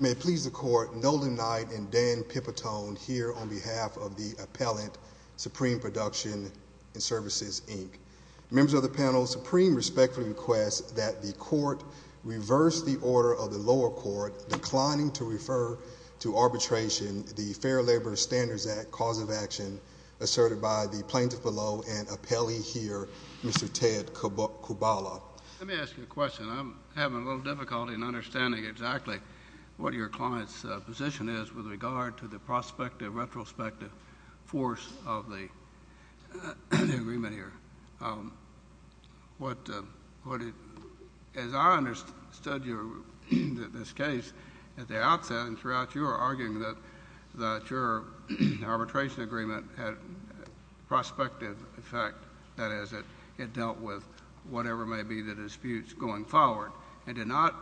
May it please the Court, Nolan Knight and Dan Pipitone here on behalf of the Appellant Supreme Production Svc, Inc. Members of the panel, Supreme respectfully requests that the Court reverse the order of the lower court declining to refer to arbitration the Fair Labor Standards Act cause of action asserted by the plaintiff below and appellee here, Mr. Ted Kubala. Let me ask you a question. I'm having a little difficulty in understanding exactly what your client's position is with regard to the prospective, retrospective force of the agreement here. As I understood this case at the outset and throughout, you were arguing that your arbitration agreement had prospective effect, that is, it dealt with whatever may be the disputes going forward and did not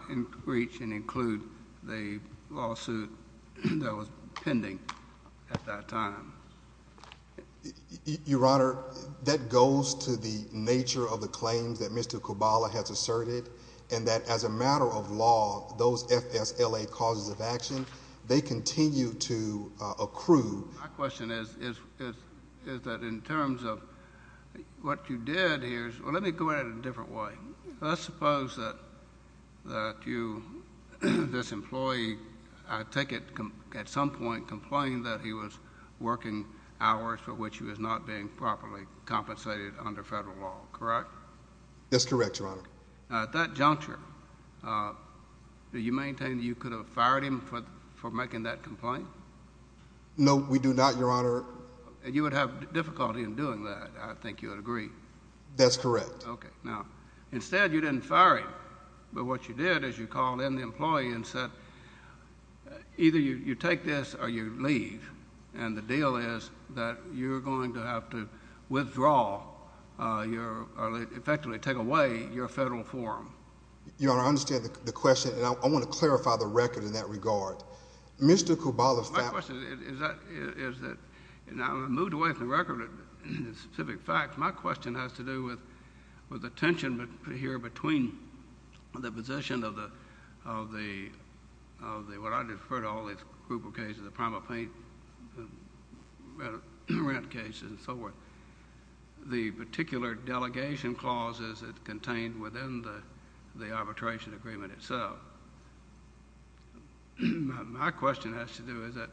reach and include the lawsuit that was pending at that time. Your Honor, that goes to the nature of the claims that Mr. Kubala has asserted and that as a matter of law, those FSLA causes of action, they continue to accrue. My question is that in terms of what you did here, let me go at it in a different way. Let's suppose that this employee, I take it, at some point complained that he was working hours for which he was not being properly compensated under federal law, correct? That's correct, Your Honor. At that juncture, do you maintain that you could have fired him for making that complaint? No, we do not, Your Honor. You would have difficulty in doing that, I think you would agree. That's correct. Okay. Now, instead, you didn't fire him, but what you did is you called in the employee and said either you take this or you leave, and the deal is that you're going to have to withdraw or effectively take away your federal forum. Your Honor, I understand the question, and I want to clarify the record in that regard. Mr. Koubala... My question is that, and I'm going to move away from the record and the specific facts. My question has to do with the tension here between the position of the... what I defer to all this group of cases, the Primal Pain case and so forth, the particular delegation clauses that's contained within the arbitration agreement itself. My question has to do is that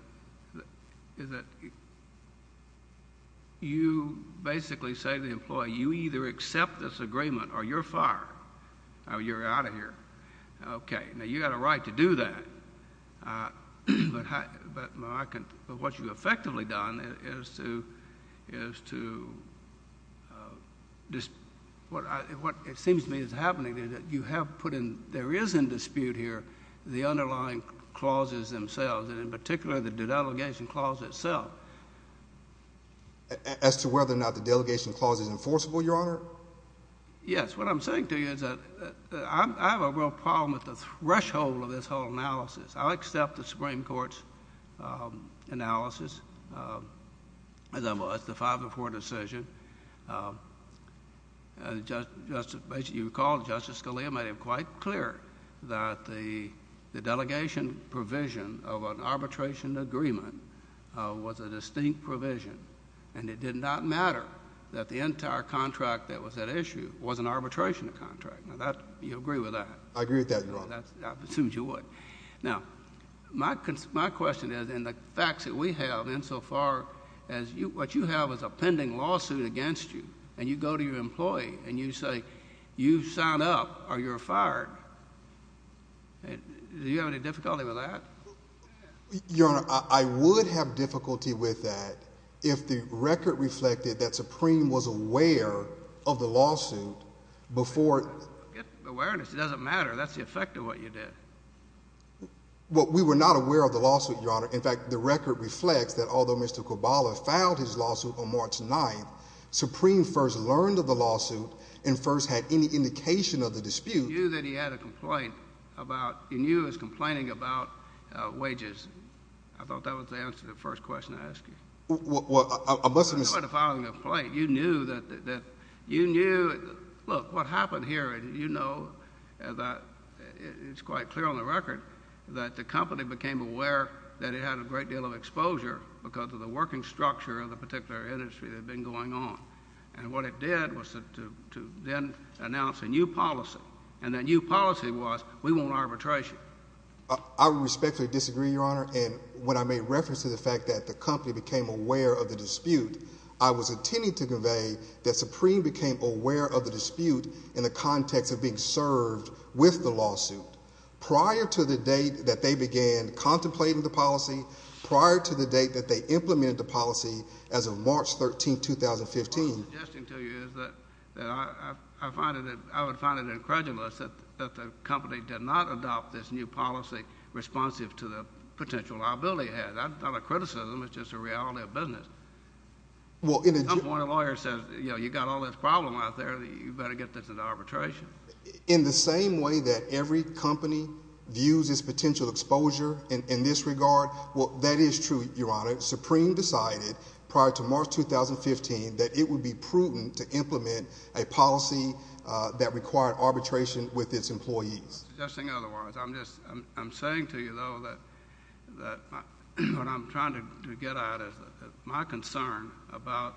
you basically say to the employee, you either accept this agreement or you're fired, or you're out of here. Okay. Now, you've got a right to do that, but what you've effectively done is to... what it says in the statute here, the underlying clauses themselves, and in particular, the delegation clause itself... As to whether or not the delegation clause is enforceable, Your Honor? Yes. What I'm saying to you is that I have a real problem with the threshold of this whole analysis. I accept the Supreme Court's analysis, as I was, the 5-4 decision, and as you recall, Justice Scalia made it quite clear that the delegation provision of an arbitration agreement was a distinct provision, and it did not matter that the entire contract that was at issue was an arbitration contract. You agree with that? I agree with that, Your Honor. I assumed you would. Now, my question is, in the facts that we have insofar as... what you have is a pending lawsuit against you, and you go to your employee, and you say, you've signed up or you're fired. Do you have any difficulty with that? Your Honor, I would have difficulty with that if the record reflected that Supreme was aware of the lawsuit before... Awareness doesn't matter. That's the effect of what you did. We were not aware of the lawsuit, Your Honor. In fact, the record reflects that although Mr. Kobala filed his lawsuit on March 9th, Supreme first learned of the lawsuit and first had any indication of the dispute. You knew that he had a complaint about... you knew he was complaining about wages. I thought that was the answer to the first question I asked you. Well, I must have... You knew he was filing a complaint. You knew that... you knew... look, what happened here, and you know that it's quite clear on the record that the company became aware that it had a great deal of exposure because of the working structure of the particular industry that had been going on, and what it did was to then announce a new policy, and that new policy was we won't arbitrage you. I respectfully disagree, Your Honor, and when I made reference to the fact that the company became aware of the dispute, I was intending to convey that Supreme became aware of the prior to the date that they began contemplating the policy, prior to the date that they implemented the policy as of March 13th, 2015... What I'm suggesting to you is that I would find it incredulous that the company did not adopt this new policy responsive to the potential liability it had. That's not a criticism. It's just a reality of business. Well, in... At some point, a lawyer says, you know, you got all this problem out there. You better get this into arbitration. In the same way that every company views its potential exposure in this regard, well, that is true, Your Honor. Supreme decided, prior to March 2015, that it would be prudent to implement a policy that required arbitration with its employees. In other words, I'm just... I'm saying to you, though, that what I'm trying to get at is my concern about,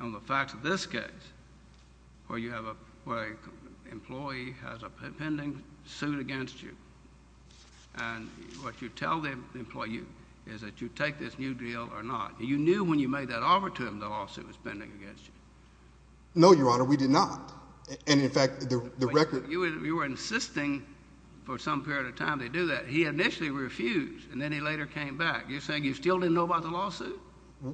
on the facts of this case, where you have a... where an employee has a pending suit against you, and what you tell the employee is that you take this new deal or not. You knew when you made that offer to him, the lawsuit was pending against you. No, Your Honor. We did not. And, in fact, the record... You were insisting for some period of time to do that. He initially refused, and then he later came back. You're saying you still didn't know about the lawsuit?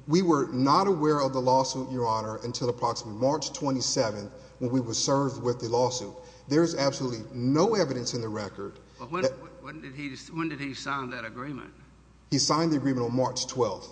We were not aware of the lawsuit, Your Honor, until approximately March 27th, when we were served with the lawsuit. There's absolutely no evidence in the record... But when did he sign that agreement? He signed the agreement on March 12th.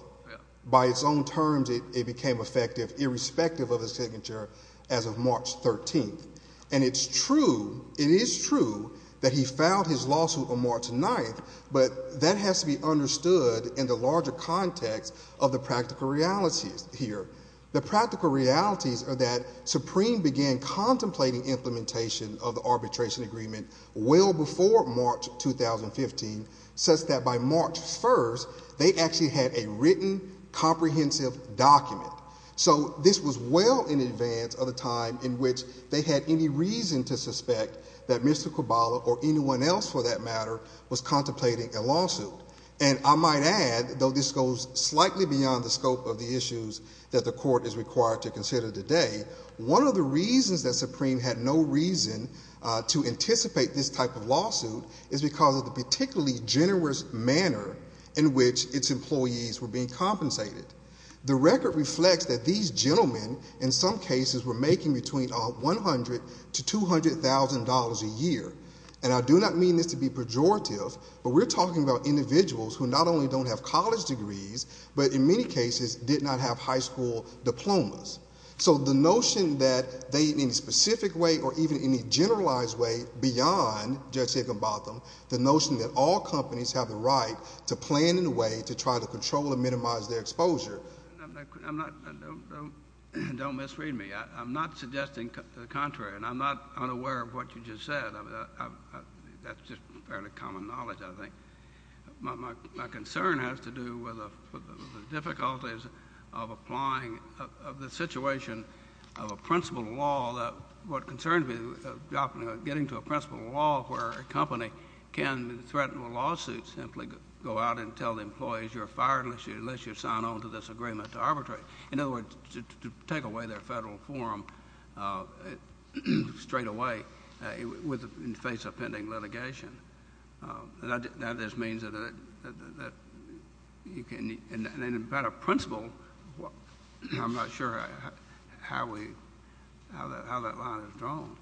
By its own terms, it became effective, irrespective of his signature, as of March 13th. And it's true, it is true, that he filed his lawsuit on March 9th, but that has to be understood in the larger context of the practical realities here. The practical realities are that Supreme began contemplating implementation of the arbitration agreement well before March 2015, such that by March 1st, they actually had a written comprehensive document. So this was well in advance of the time in which they had any reason to suspect that Mr. Caballa, or anyone else for that matter, was contemplating a lawsuit. And I might add, though this goes slightly beyond the scope of the issues that the court is required to consider today, one of the reasons that Supreme had no reason to anticipate this type of lawsuit is because of the particularly generous manner in which its employees were being compensated. The record reflects that these gentlemen, in some cases, were making between $100,000 to $200,000 a year. And I do not mean this to be pejorative, but we're talking about individuals who not only don't have college degrees, but in many cases, did not have high school diplomas. So the notion that they, in any specific way, or even any generalized way beyond Judge Higginbotham, the notion that all companies have the right to plan in a way to try to control and minimize their exposure... I'm not, don't misread me, I'm not suggesting the contrary, and I'm not unaware of what you just said. That's just fairly common knowledge, I think. My concern has to do with the difficulties of applying, of the situation of a principle law that, what concerns me about getting to a principle law where a company can threaten a lawsuit, simply go out and tell the employees, you're fired unless you sign on to this agreement to arbitrate. In other words, to take away their federal form straight away, in the face of pending litigation. That just means that you can... and about a principle, I'm not sure how that line is drawn.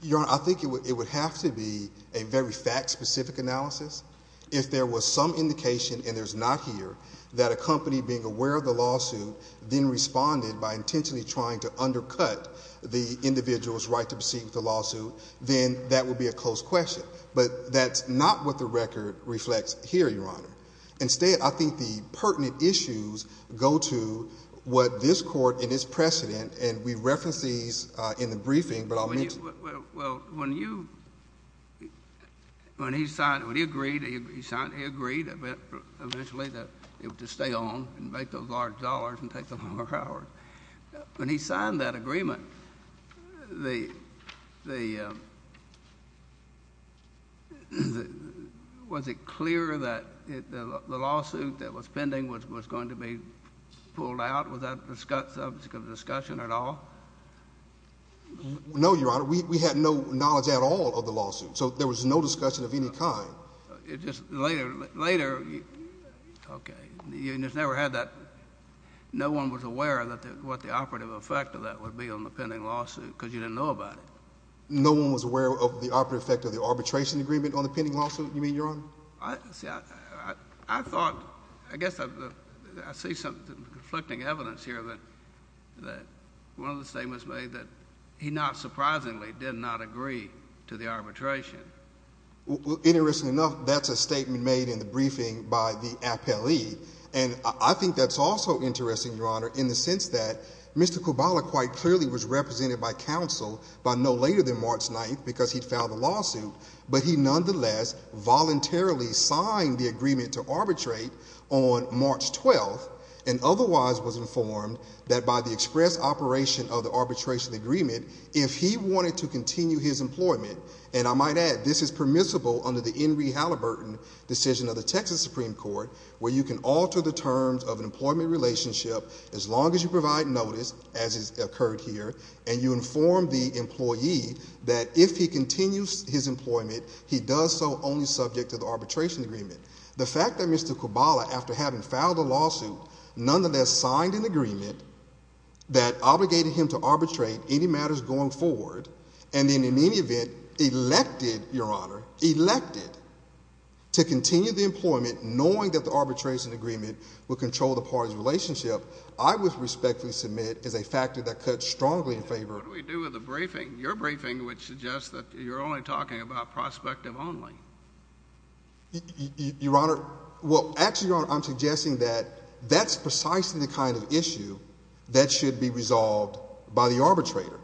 Your Honor, I think it would have to be a very fact-specific analysis. If there was some indication, and there's not here, that a company being aware of the lawsuit then responded by intentionally trying to undercut the individual's right to proceed with the lawsuit, then that would be a close question. But that's not what the record reflects here, Your Honor. Instead, I think the pertinent issues go to what this Court and its precedent, and we referenced these in the briefing, but I'll mention... Well, when you... when he signed... when he agreed, he agreed eventually to stay on and make those large dollars and take the longer hours. When he signed that agreement, was it clear that the lawsuit that was pending was going to be pulled out without subject of discussion at all? No, Your Honor. We had no knowledge at all of the lawsuit, so there was no discussion of any kind. It just... later... later... okay, you just never had that... no one was aware of what the operative effect of that would be on the pending lawsuit, because you didn't know about it. No one was aware of the operative effect of the arbitration agreement on the pending lawsuit, you mean, Your Honor? I thought... I guess I see some conflicting evidence here that one of the statements made that he not surprisingly did not agree to the arbitration. Well, interestingly enough, that's a statement made in the briefing by the appellee, and I think that's also interesting, Your Honor, in the sense that Mr. Kubala quite clearly was represented by counsel by no later than March 9th because he'd filed a lawsuit, but he nonetheless voluntarily signed the agreement to arbitrate on March 12th and otherwise was of the arbitration agreement if he wanted to continue his employment. And I might add, this is permissible under the Henry Halliburton decision of the Texas Supreme Court, where you can alter the terms of an employment relationship as long as you provide notice, as has occurred here, and you inform the employee that if he continues his employment, he does so only subject to the arbitration agreement. The fact that Mr. Kubala, after having filed a lawsuit, nonetheless signed an agreement that obligated him to arbitrate any matters going forward, and then in any event elected, Your Honor, elected to continue the employment, knowing that the arbitration agreement would control the party's relationship, I would respectfully submit as a factor that cuts strongly in favor. What do we do with the briefing, your briefing, which suggests that you're only talking about prospective only? Your Honor, well, actually, Your Honor, I'm suggesting that that's precisely the kind of issue that should be resolved by the arbitrator,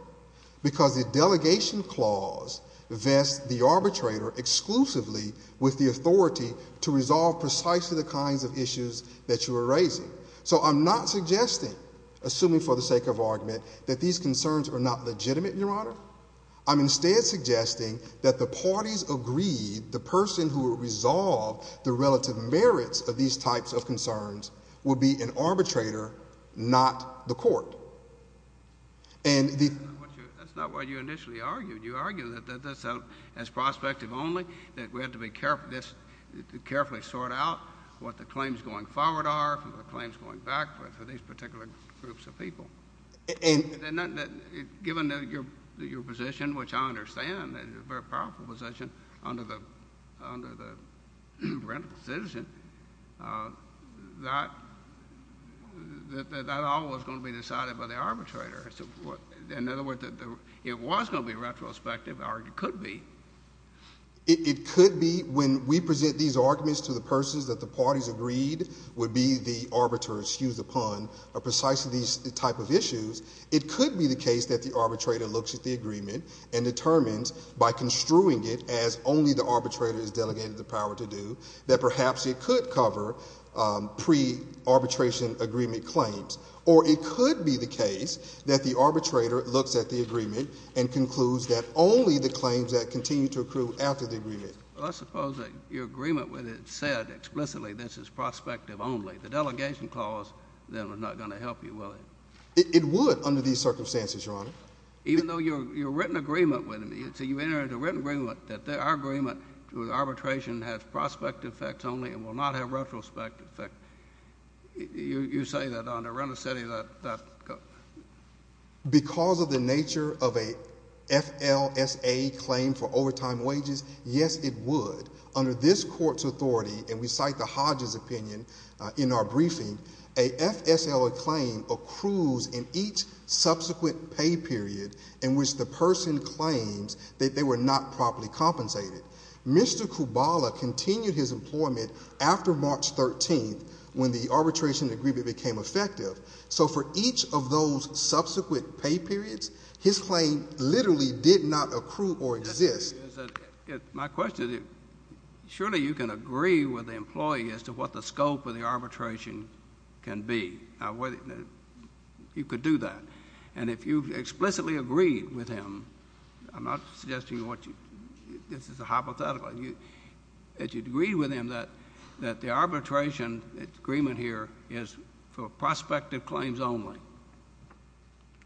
because the delegation clause vests the arbitrator exclusively with the authority to resolve precisely the kinds of issues that you are raising. So I'm not suggesting, assuming for the sake of argument, that these concerns are not legitimate, Your Honor. I'm instead suggesting that the parties agreed the person who will resolve the relative merits of these types of concerns would be an arbitrator, not the court. And the— That's not what you initially argued. You argued that that's prospective only, that we have to carefully sort out what the claims going forward are, the claims going back for these particular groups of people. And— Given that your position, which I understand is a very powerful position under the Rental Decision, that all was going to be decided by the arbitrator. In other words, it was going to be retrospective, or it could be. It could be when we present these arguments to the persons that the parties agreed would be the arbiters—excuse the pun—or precisely these type of issues, it could be the case that the arbitrator looks at the agreement and determines, by construing it as only the arbitrator is delegated the power to do, that perhaps it could cover pre-arbitration agreement claims. Or it could be the case that the arbitrator looks at the agreement and concludes that Let's suppose that your agreement with it said explicitly this is prospective only. The delegation clause then was not going to help you, was it? It would under these circumstances, Your Honor. Even though your written agreement with it—so you entered a written agreement that our agreement with arbitration has prospect effect only and will not have retrospect effect. You say that on a rental city that— Because of the nature of a FLSA claim for overtime wages, yes, it would. Under this court's authority, and we cite the Hodges opinion in our briefing, a FSLA claim accrues in each subsequent pay period in which the person claims that they were not properly compensated. Mr. Kubala continued his employment after March 13th, when the arbitration agreement became effective. So for each of those subsequent pay periods, his claim literally did not accrue or exist. My question is, surely you can agree with the employee as to what the scope of the arbitration can be. You could do that. And if you explicitly agreed with him—I'm not suggesting this is a hypothetical—that the arbitration agreement here is for prospective claims only,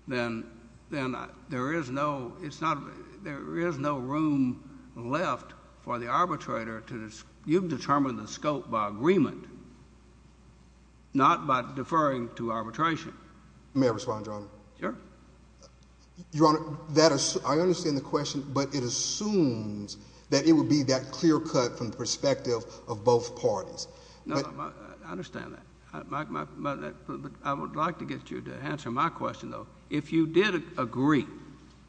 then there is no—it's not—there is no room left for the arbitrator to—you've determined the scope by agreement, not by deferring to arbitration. May I respond, Your Honor? Sure. Your Honor, that—I understand the question, but it assumes that it would be that clear cut from the perspective of both parties. No, I understand that. I would like to get you to answer my question, though. If you did agree,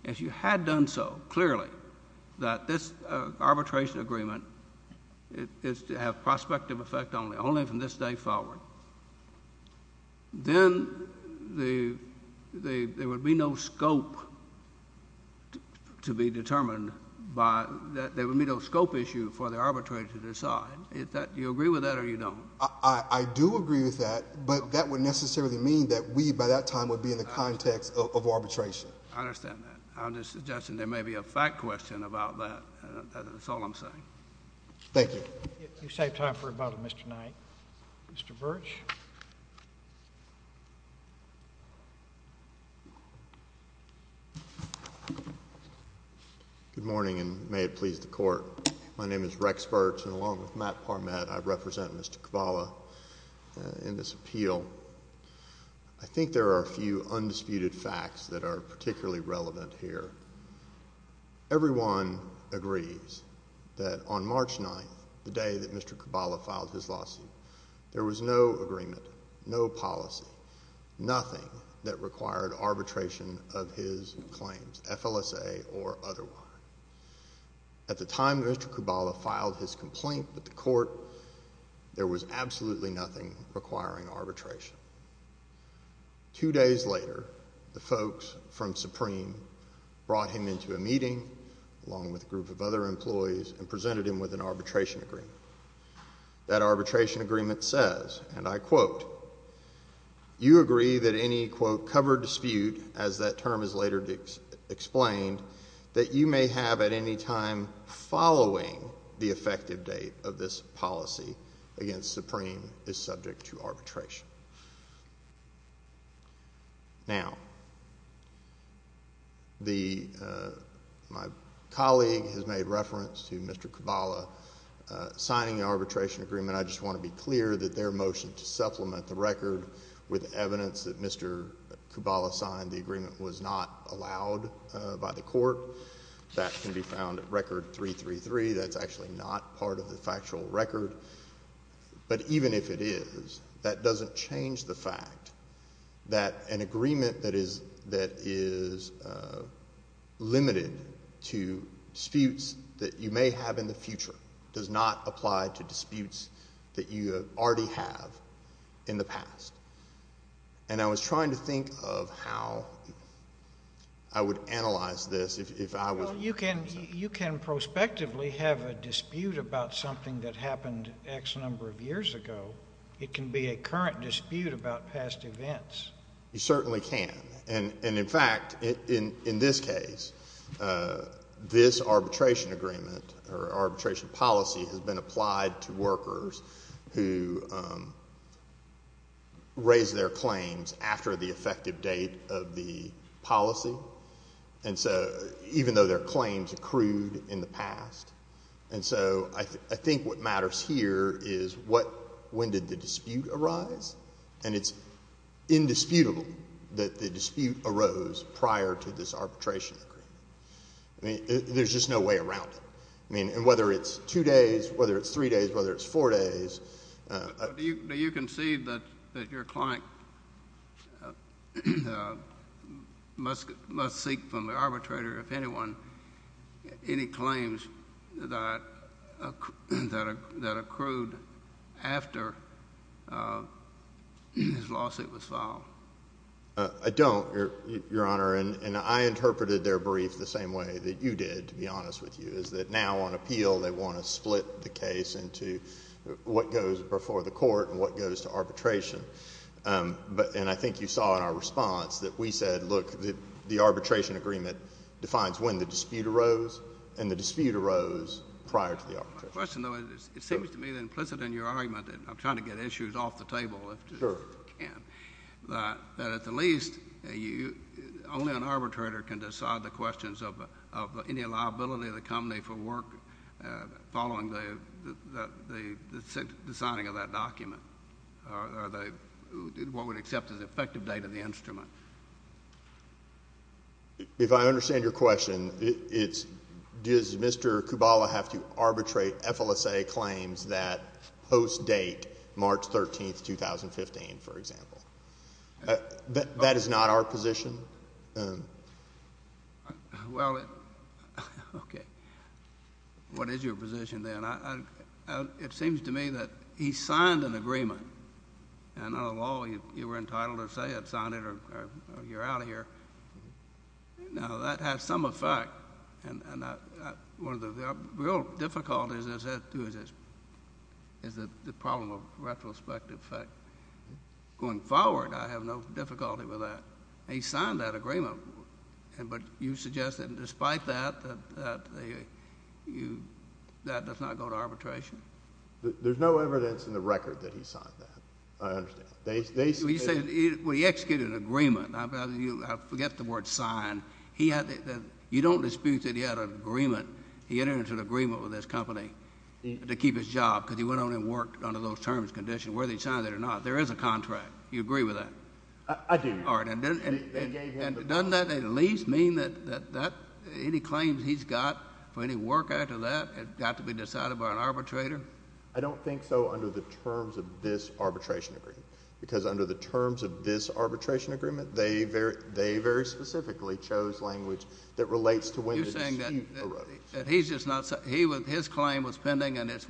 if you had done so clearly, that this arbitration agreement is to have prospective effect only, only from this day forward, then the—there would be no scope to be determined by—there would be no scope issue for the arbitrator to decide. Do you agree with that or you don't? I do agree with that, but that would necessarily mean that we, by that time, would be in the context of arbitration. I understand that. I'm just suggesting there may be a fact question about that. That's all I'm saying. Thank you. You saved time for about a minute tonight. Mr. Burch? Good morning, and may it please the Court. My name is Rex Burch, and along with Matt Parmet, I represent Mr. Caballa in this appeal. I think there are a few undisputed facts that are particularly relevant here. Everyone agrees that on March 9th, the day that Mr. Caballa filed his lawsuit, there was no agreement, no policy, nothing that required arbitration of his claims, FLSA or otherwise. At the time that Mr. Caballa filed his complaint with the Court, there was absolutely nothing requiring arbitration. Two days later, the folks from Supreme brought him into a meeting, along with a group of other employees, and presented him with an arbitration agreement. That arbitration agreement says, and I quote, you agree that any, quote, covered dispute, as that term is later explained, that you may have at any time following the effective date of this policy against Supreme is subject to arbitration. Now, the, my colleague has made reference to Mr. Caballa signing the arbitration agreement. I just want to be clear that their motion to supplement the record with evidence that Mr. Caballa signed the agreement was not allowed by the Court. That can be found at Record 333. That's actually not part of the factual record. But even if it is, that doesn't change the fact that an agreement that is, that is limited to disputes that you may have in the future does not apply to disputes that you already have in the past. And I was trying to think of how I would analyze this if I was. Well, you can, you can prospectively have a dispute about something that happened X number of years ago. It can be a current dispute about past events. You certainly can. And in fact, in this case, this arbitration agreement or arbitration policy has been applied to workers who raise their claims after the effective date of the policy. And so, even though their claims accrued in the past. And so, I think what matters here is what, when did the dispute arise? And it's indisputable that the dispute arose prior to this arbitration agreement. I mean, there's just no way around it. I mean, and whether it's two days, whether it's three days, whether it's four days. Do you concede that your client must seek from the arbitrator, if anyone, any claims that accrued after his lawsuit was filed? I don't, Your Honor. And I interpreted their brief the same way that you did, to be honest with you, is that now on appeal, they want to split the case into what goes before the court and what goes to arbitration. And I think you saw in our response that we said, look, the arbitration agreement defines when the dispute arose, and the dispute arose prior to the arbitration. My question, though, it seems to me that implicit in your argument, and I'm trying to get issues off the table if I can, that at the least, only an arbitrator can decide the questions of any liability of the company for work following the signing of that document, or what we'd accept as the effective date of the instrument. If I understand your question, it's, does Mr. Kubala have to arbitrate FLSA claims that post-date March 13, 2015, for example? That is not our position? Well, okay. What is your position, then? It seems to me that he signed an agreement, and I don't know if you were entitled to say it, sign it, or you're out of here. Now, that has some effect, and one of the real difficulties is the problem of retrospective effect. Going forward, I have no difficulty with that. He signed that agreement, but you suggest that despite that, that does not go to arbitration? There's no evidence in the record that he signed that, I understand. Well, you say, well, he executed an agreement, I forget the word sign. You don't dispute that he had an agreement, he entered into an agreement with this company to keep his job, because he went on and worked under those terms and conditions, whether he signed it or not. There is a contract. You agree with that? I do. And doesn't that at least mean that any claims he's got for any work after that has got to be decided by an arbitrator? I don't think so under the terms of this arbitration agreement, because under the terms of this arbitration agreement, they very specifically chose language that relates to when they received the roadies. He's just not, his claim was pending, and it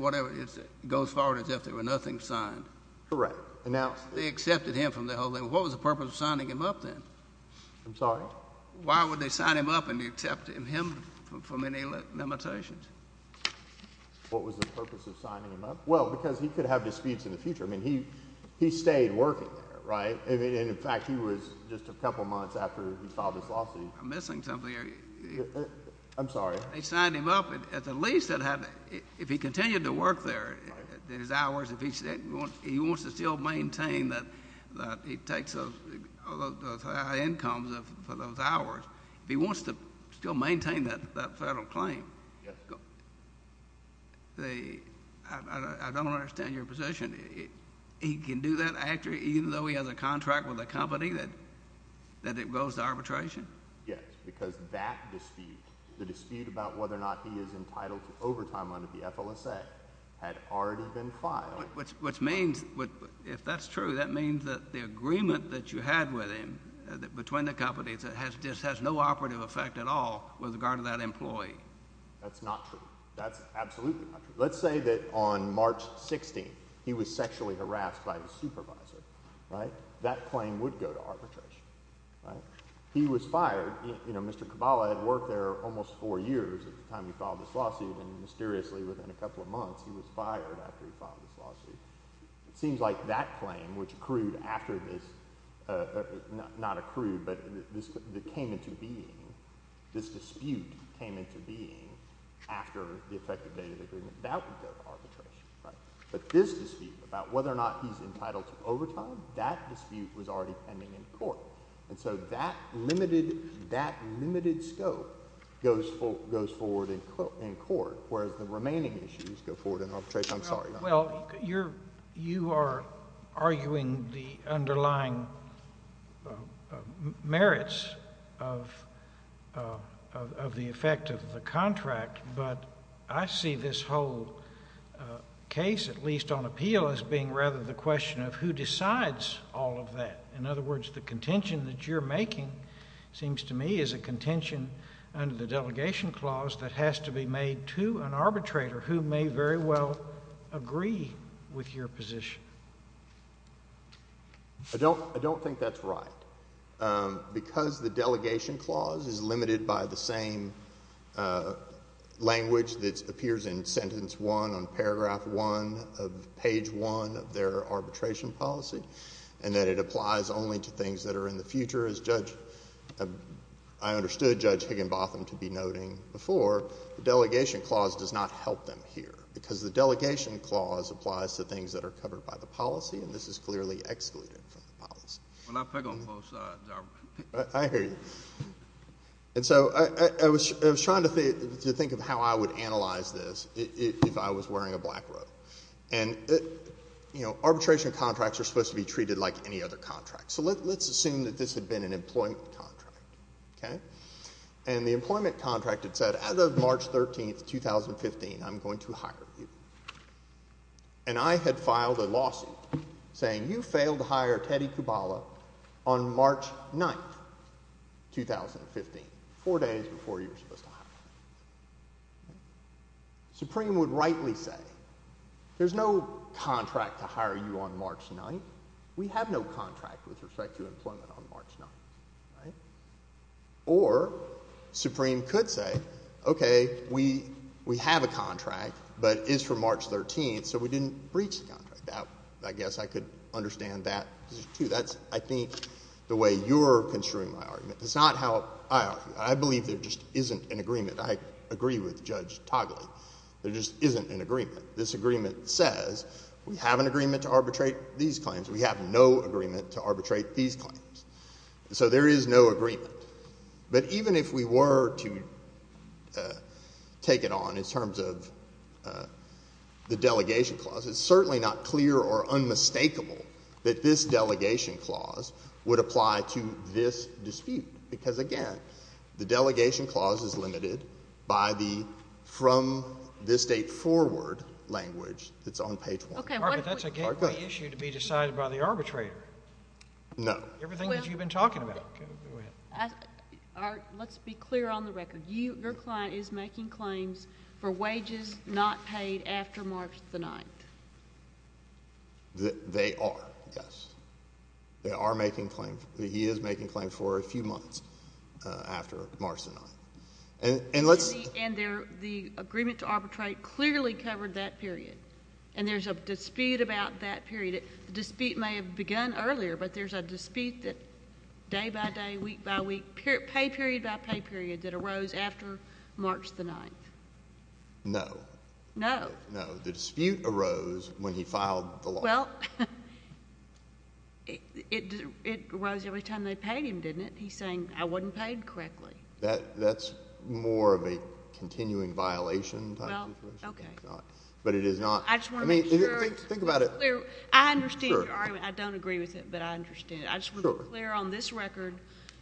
goes forward as if there were nothing signed. Correct. Now, they accepted him from the whole thing. What was the purpose of signing him up then? I'm sorry? Why would they sign him up and accept him for many limitations? What was the purpose of signing him up? Well, because he could have disputes in the future. I mean, he stayed working there, right? And in fact, he was just a couple months after he filed his lawsuit. I'm missing something here. I'm sorry. They signed him up, and at the least, if he continued to work there, his hours, he wants to still maintain that he takes those high incomes for those hours. If he wants to still maintain that federal claim, I don't understand your position. He can do that after, even though he has a contract with a company, that it goes to arbitration? Yes, because that dispute, the dispute about whether or not he is entitled to overtime under the FLSA, had already been filed. Which means, if that's true, that means that the agreement that you had with him, between the companies, just has no operative effect at all with regard to that employee? That's not true. That's absolutely not true. Let's say that on March 16th, he was sexually harassed by his supervisor, right? That claim would go to arbitration, right? He was fired. You know, Mr. Cabala had worked there almost four years at the time he filed this lawsuit, and mysteriously, within a couple of months, he was fired after he filed this lawsuit. It seems like that claim, which accrued after this, not accrued, but that came into being, this dispute came into being after the effective date of the agreement, that would go to arbitration, right? But this dispute, about whether or not he's entitled to overtime, that dispute was already pending in court. And so, that limited scope goes forward in court, whereas the remaining issues go forward in arbitration. I'm sorry. Well, you are arguing the underlying merits of the effect of the contract, but I see this whole case, at least on appeal, as being rather the question of who decides all of that. In other words, the contention that you're making, seems to me, is a contention under the delegation clause that has to be made to an arbitrator who may very well agree with your position. I don't think that's right, because the delegation clause is limited by the same language that appears in sentence one on paragraph one of page one of their arbitration policy, and that it applies only to things that are in the future, as Judge, I understood Judge Higginbotham to be noting before, the delegation clause does not help them here, because the delegation clause applies to things that are covered by the policy, and this is clearly excluded from the policy. Well, I pick on both sides, I hear you. And so, I was trying to think of how I would analyze this, if I was wearing a black robe. And, you know, arbitration contracts are supposed to be treated like any other contract. So let's assume that this had been an employment contract, okay? And the employment contract had said, as of March 13th, 2015, I'm going to hire you. And I had filed a lawsuit saying, you failed to hire Teddy Kubala on March 9th, 2015, four days before you were supposed to hire him. Supreme would rightly say, there's no contract to hire you on March 9th. We have no contract with respect to employment on March 9th, right? Or Supreme could say, okay, we have a contract, but it's for March 13th, so we didn't breach the contract. Now, I guess I could understand that, too, that's, I think, the way you're construing my argument. It's not how I argue. I believe there just isn't an agreement. I agree with Judge Togliatti. There just isn't an agreement. This agreement says, we have an agreement to arbitrate these claims. We have no agreement to arbitrate these claims. So there is no agreement. But even if we were to take it on in terms of the delegation clause, it's certainly not clear or unmistakable that this delegation clause would apply to this dispute. Because, again, the delegation clause is limited by the from this date forward language that's on page 1. Okay. But that's a gateway issue to be decided by the arbitrator. No. Everything that you've been talking about. Let's be clear on the record. Your client is making claims for wages not paid after March 9th. They are, yes. They are making claims. He is making claims for a few months after March 9th. And the agreement to arbitrate clearly covered that period. And there's a dispute about that period. The dispute may have begun earlier, but there's a dispute day by day, week by week, pay period by pay period that arose after March 9th. No. No. No. The dispute arose when he filed the law. Well, it arose every time they paid him, didn't it? He's saying, I wasn't paid correctly. That's more of a continuing violation type situation. Well, okay. But it is not. I just want to make sure. I mean, think about it. I understand your argument. Sure. I don't agree with it, but I understand it. Sure. I just want to be clear on this record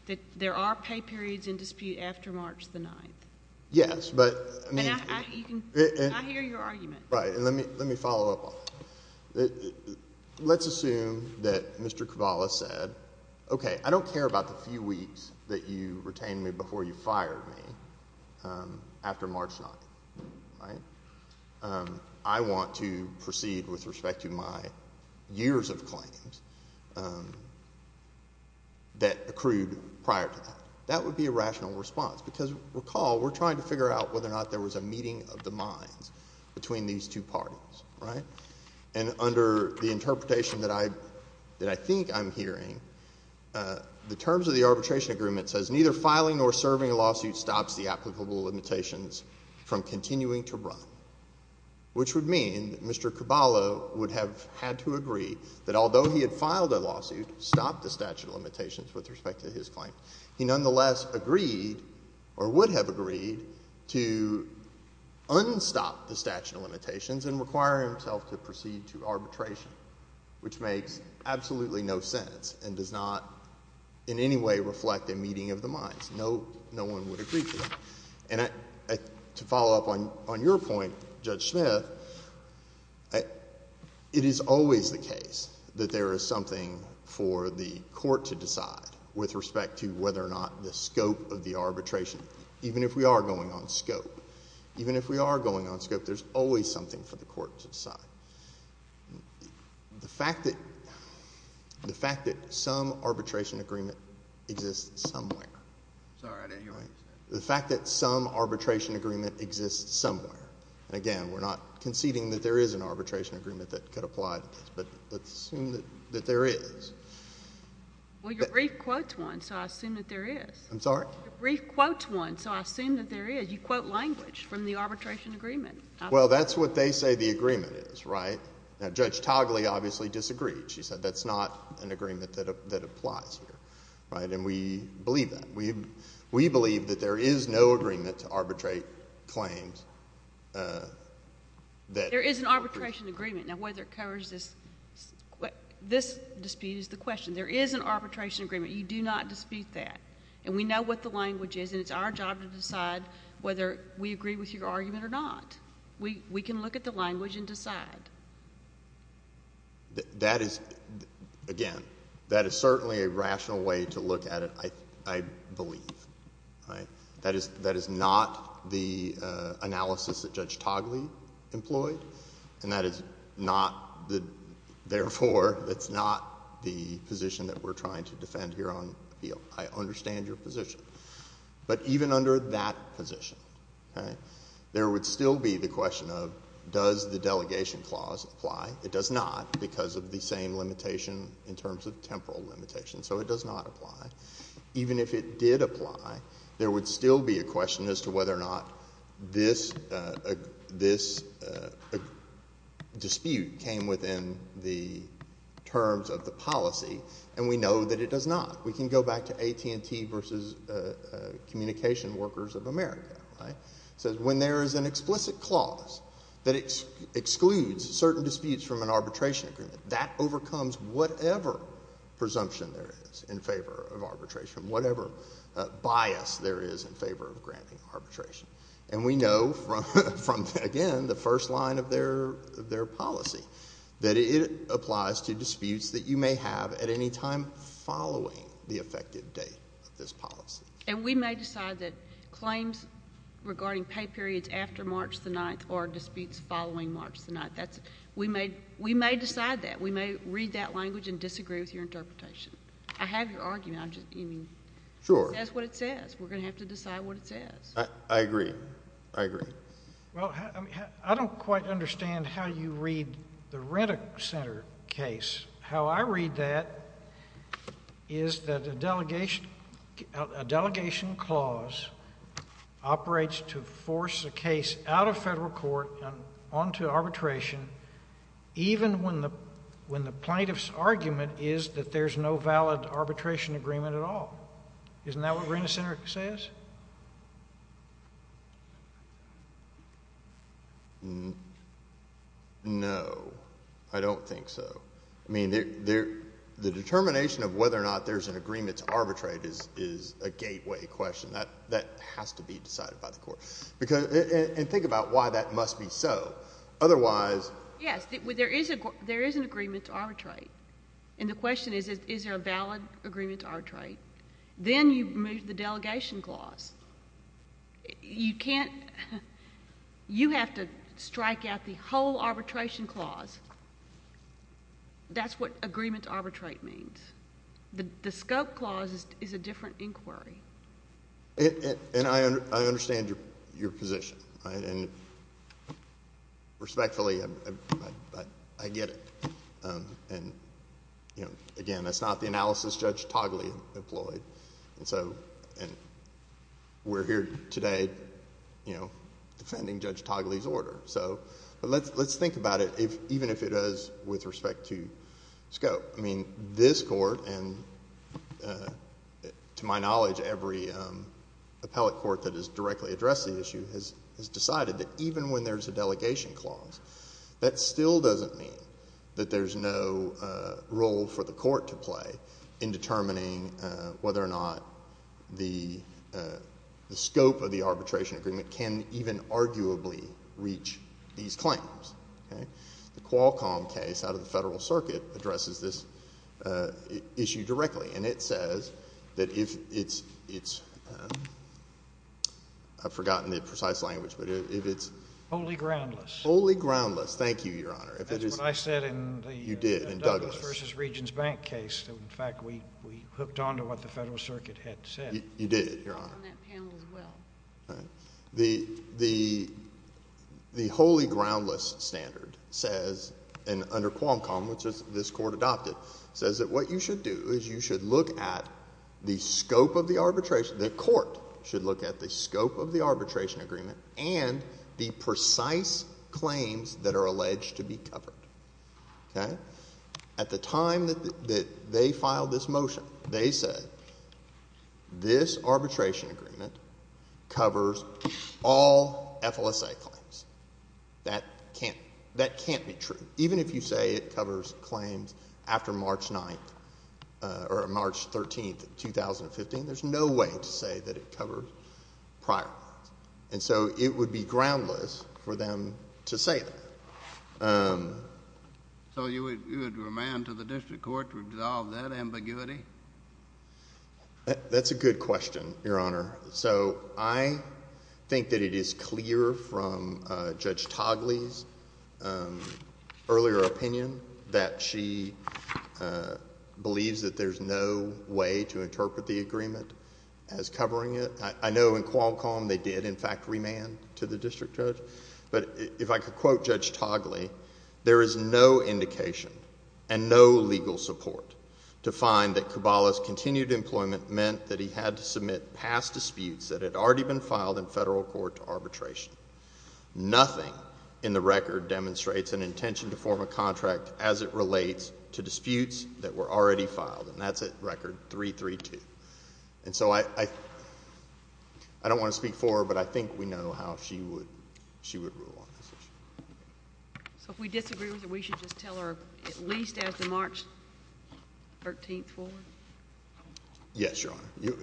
that there are pay periods in dispute after March 9th. Yes. But, I mean. I hear your argument. Right. And let me follow up on that. Let's assume that Mr. Cavalli said, okay, I don't care about the few weeks that you retained me before you fired me after March 9th, right? I want to proceed with respect to my years of claims that accrued prior to that. That would be a rational response. Because recall, we're trying to figure out whether or not there was a meeting of the parties, right? And under the interpretation that I think I'm hearing, the terms of the arbitration agreement says neither filing nor serving a lawsuit stops the applicable limitations from continuing to run. Which would mean that Mr. Cavalli would have had to agree that although he had filed a lawsuit, stopped the statute of limitations with respect to his claim, he nonetheless agreed, or would have agreed, to unstop the statute of limitations and require himself to proceed to arbitration. Which makes absolutely no sense and does not in any way reflect a meeting of the minds. No one would agree to that. And to follow up on your point, Judge Smith, it is always the case that there is something for the court to decide with respect to whether or not the scope of the arbitration, even if we are going on scope. Even if we are going on scope, there's always something for the court to decide. The fact that some arbitration agreement exists somewhere, the fact that some arbitration agreement exists somewhere, and again, we're not conceding that there is an arbitration agreement that could apply to this, but let's assume that there is. Well, your brief quotes one, so I assume that there is. I'm sorry? Your brief quotes one, so I assume that there is. You quote language from the arbitration agreement. Well, that's what they say the agreement is, right? Now, Judge Togley obviously disagreed. She said that's not an agreement that applies here, right? And we believe that. We believe that there is no agreement to arbitrate claims that— There is an arbitration agreement. Now, whether it covers this—this dispute is the question. There is an arbitration agreement. You do not dispute that. And we know what the language is, and it's our job to decide whether we agree with your argument or not. We can look at the language and decide. That is—again, that is certainly a rational way to look at it, I believe, right? That is not the analysis that Judge Togley employed, and that is not the—therefore, it's not the position that we're trying to defend here on appeal. I understand your position. But even under that position, okay, there would still be the question of does the delegation clause apply? It does not because of the same limitation in terms of temporal limitation. So it does not apply. Even if it did apply, there would still be a question as to whether or not this dispute came within the terms of the policy, and we know that it does not. We can go back to AT&T versus Communication Workers of America, right? It says when there is an explicit clause that excludes certain disputes from an arbitration agreement, that overcomes whatever presumption there is in favor of arbitration, whatever bias there is in favor of granting arbitration. And we know from, again, the first line of their policy that it applies to disputes that you may have at any time following the effective date of this policy. And we may decide that claims regarding pay periods after March the 9th or disputes following March the 9th. We may decide that. We may read that language and disagree with your interpretation. I have your argument. I'm just— Sure. It says what it says. We're going to have to decide what it says. I agree. I agree. Well, I don't quite understand how you read the Rent-A-Center case. How I read that is that a delegation clause operates to force a case out of federal court and onto arbitration even when the plaintiff's argument is that there's no valid arbitration agreement at all. Isn't that what Rent-A-Center says? No. I don't think so. I mean, the determination of whether or not there's an agreement to arbitrate is a gateway question. That has to be decided by the court. And think about why that must be so. Otherwise— Yes. There is an agreement to arbitrate. And the question is, is there a valid agreement to arbitrate? Then you move to the delegation clause. You can't—you have to strike out the whole arbitration clause. That's what agreement to arbitrate means. The scope clause is a different inquiry. And I understand your position, and respectfully, I get it. And again, that's not the analysis Judge Togli employed, and we're here today defending Judge Togli's order. But let's think about it, even if it is with respect to scope. I mean, this Court, and to my knowledge, every appellate court that has directly addressed the issue has decided that even when there's a delegation clause, that still doesn't mean that there's no role for the court to play in determining whether or not the scope of the arbitration agreement can even arguably reach these claims. The Qualcomm case out of the Federal Circuit addresses this issue directly, and it says that if it's—I've forgotten the precise language, but if it's— Wholly groundless. Wholly groundless. Thank you, Your Honor. That's what I said in the— You did, in Douglas. —Douglas v. Regents Bank case. In fact, we hooked on to what the Federal Circuit had said. You did, Your Honor. I was on that panel as well. The wholly groundless standard says, and under Qualcomm, which this Court adopted, says that what you should do is you should look at the scope of the arbitration—the Court should look at the scope of the arbitration agreement and the precise claims that are alleged to be covered. Okay? At the time that they filed this motion, they said, this arbitration agreement covers all FLSA claims. That can't—that can't be true. Even if you say it covers claims after March 9th—or March 13th, 2015, there's no way to say that it covers prior ones. And so it would be groundless for them to say that. So you would remand to the district court to resolve that ambiguity? That's a good question, Your Honor. So I think that it is clear from Judge Togley's earlier opinion that she believes that there's no way to interpret the agreement as covering it. I know in Qualcomm they did, in fact, remand to the district judge. But if I could quote Judge Togley, there is no indication and no legal support to find that Kubala's continued employment meant that he had to submit past disputes that had already been filed in Federal court arbitration. Nothing in the record demonstrates an intention to form a contract as it relates to disputes that were already filed, and that's at Record 332. And so I don't want to speak for her, but I think we know how she would rule on this issue. So if we disagree with her, we should just tell her at least as of March 13th forward? Yes, Your Honor.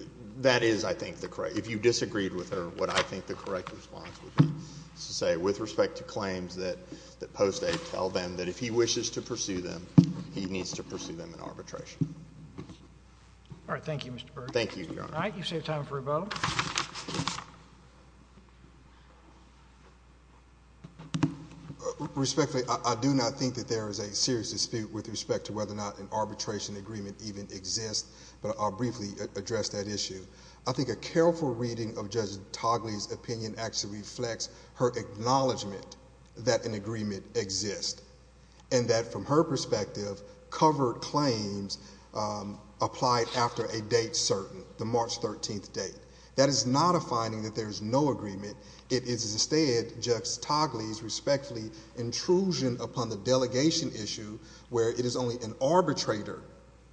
That is, I think, the correct—if you disagreed with her, what I think the correct response would be is to say, with respect to claims that post-8 tell them that if he wishes to pursue them, he needs to pursue them in arbitration. All right. Thank you, Mr. Burke. Thank you, Your Honor. All right. You've saved time for rebuttal. Respectfully, I do not think that there is a serious dispute with respect to whether or not an arbitration agreement even exists, but I'll briefly address that issue. I think a careful reading of Judge Togley's opinion actually reflects her acknowledgement that an agreement exists and that, from her perspective, covered claims applied after a date certain, the March 13th date. That is not a finding that there is no agreement. It is instead Judge Togley's respectfully intrusion upon the delegation issue where it is only an arbitrator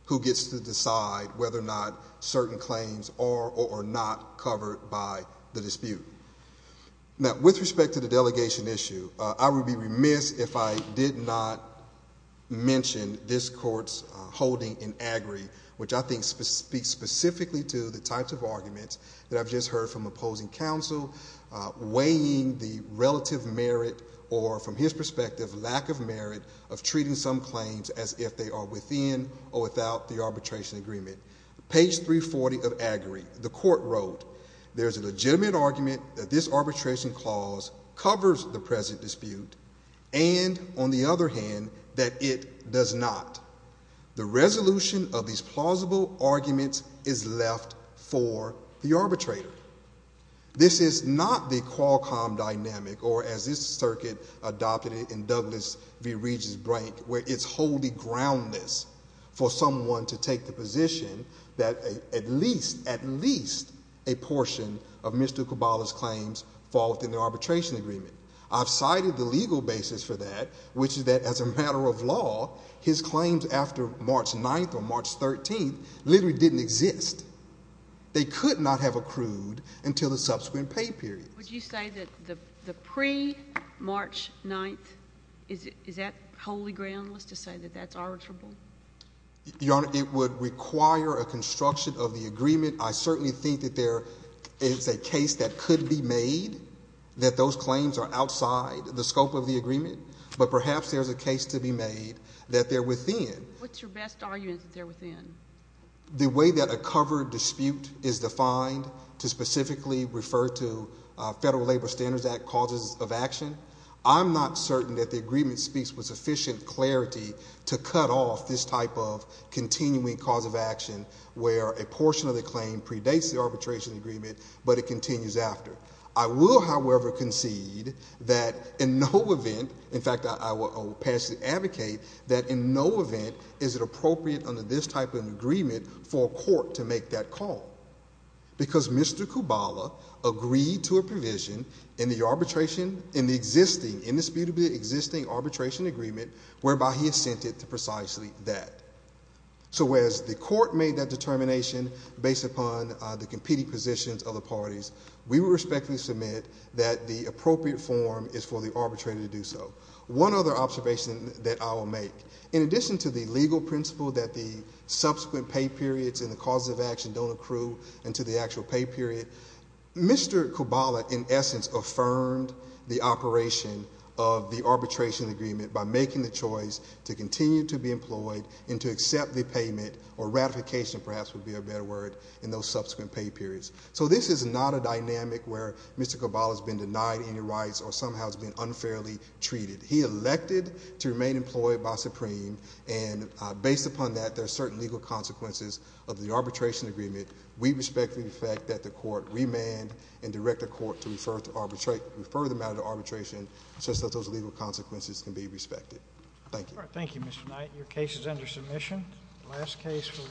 who gets to decide whether or not certain claims are or are not covered by the dispute. Now, with respect to the delegation issue, I would be remiss if I did not mention this Court's holding in AGRI, which I think speaks specifically to the types of arguments that I've just heard from opposing counsel, weighing the relative merit or, from his perspective, lack of merit of treating some claims as if they are within or without the arbitration agreement. Page 340 of AGRI, the Court wrote, there is a legitimate argument that this arbitration clause covers the present dispute and, on the other hand, that it does not. The resolution of these plausible arguments is left for the arbitrator. This is not the Qualcomm dynamic or, as this circuit adopted it in Douglas v. Regis' break, where it is wholly groundless for someone to take the position that at least a portion of Mr. Caballa's claims fall within the arbitration agreement. I've cited the legal basis for that, which is that, as a matter of law, his claims after March 9th or March 13th literally didn't exist. They could not have accrued until the subsequent pay period. Would you say that the pre-March 9th, is that wholly groundless to say that that's arbitrable? Your Honor, it would require a construction of the agreement. I certainly think that there is a case that could be made that those claims are outside the scope of the agreement, but perhaps there's a case to be made that they're within. What's your best argument that they're within? The way that a covered dispute is defined to specifically refer to Federal Labor Standards Act causes of action, I'm not certain that the agreement speaks with sufficient clarity to cut off this type of continuing cause of action where a portion of the claim predates the arbitration agreement, but it continues after. I will, however, concede that in no event, in fact, I will passionately advocate that in no event is it appropriate under this type of agreement for a court to make that call, because Mr. Kubala agreed to a provision in the arbitration, in the existing, indisputably existing arbitration agreement whereby he assented to precisely that. Whereas the court made that determination based upon the competing positions of the parties, we respectfully submit that the appropriate form is for the arbitrator to do so. One other observation that I will make. In addition to the legal principle that the subsequent pay periods and the causes of action don't accrue until the actual pay period, Mr. Kubala, in essence, affirmed the operation of the arbitration agreement by making the choice to continue to be employed and to accept the payment, or ratification perhaps would be a better word, in those subsequent pay periods. So this is not a dynamic where Mr. Kubala has been denied any rights or somehow has been unfairly treated. He elected to remain employed by Supreme, and based upon that, there are certain legal consequences of the arbitration agreement. We respect the fact that the court remanded and directed the court to refer the matter to arbitration, such that those legal consequences can be respected. Thank you. Thank you, Mr. Knight. The last case for today. Thank you.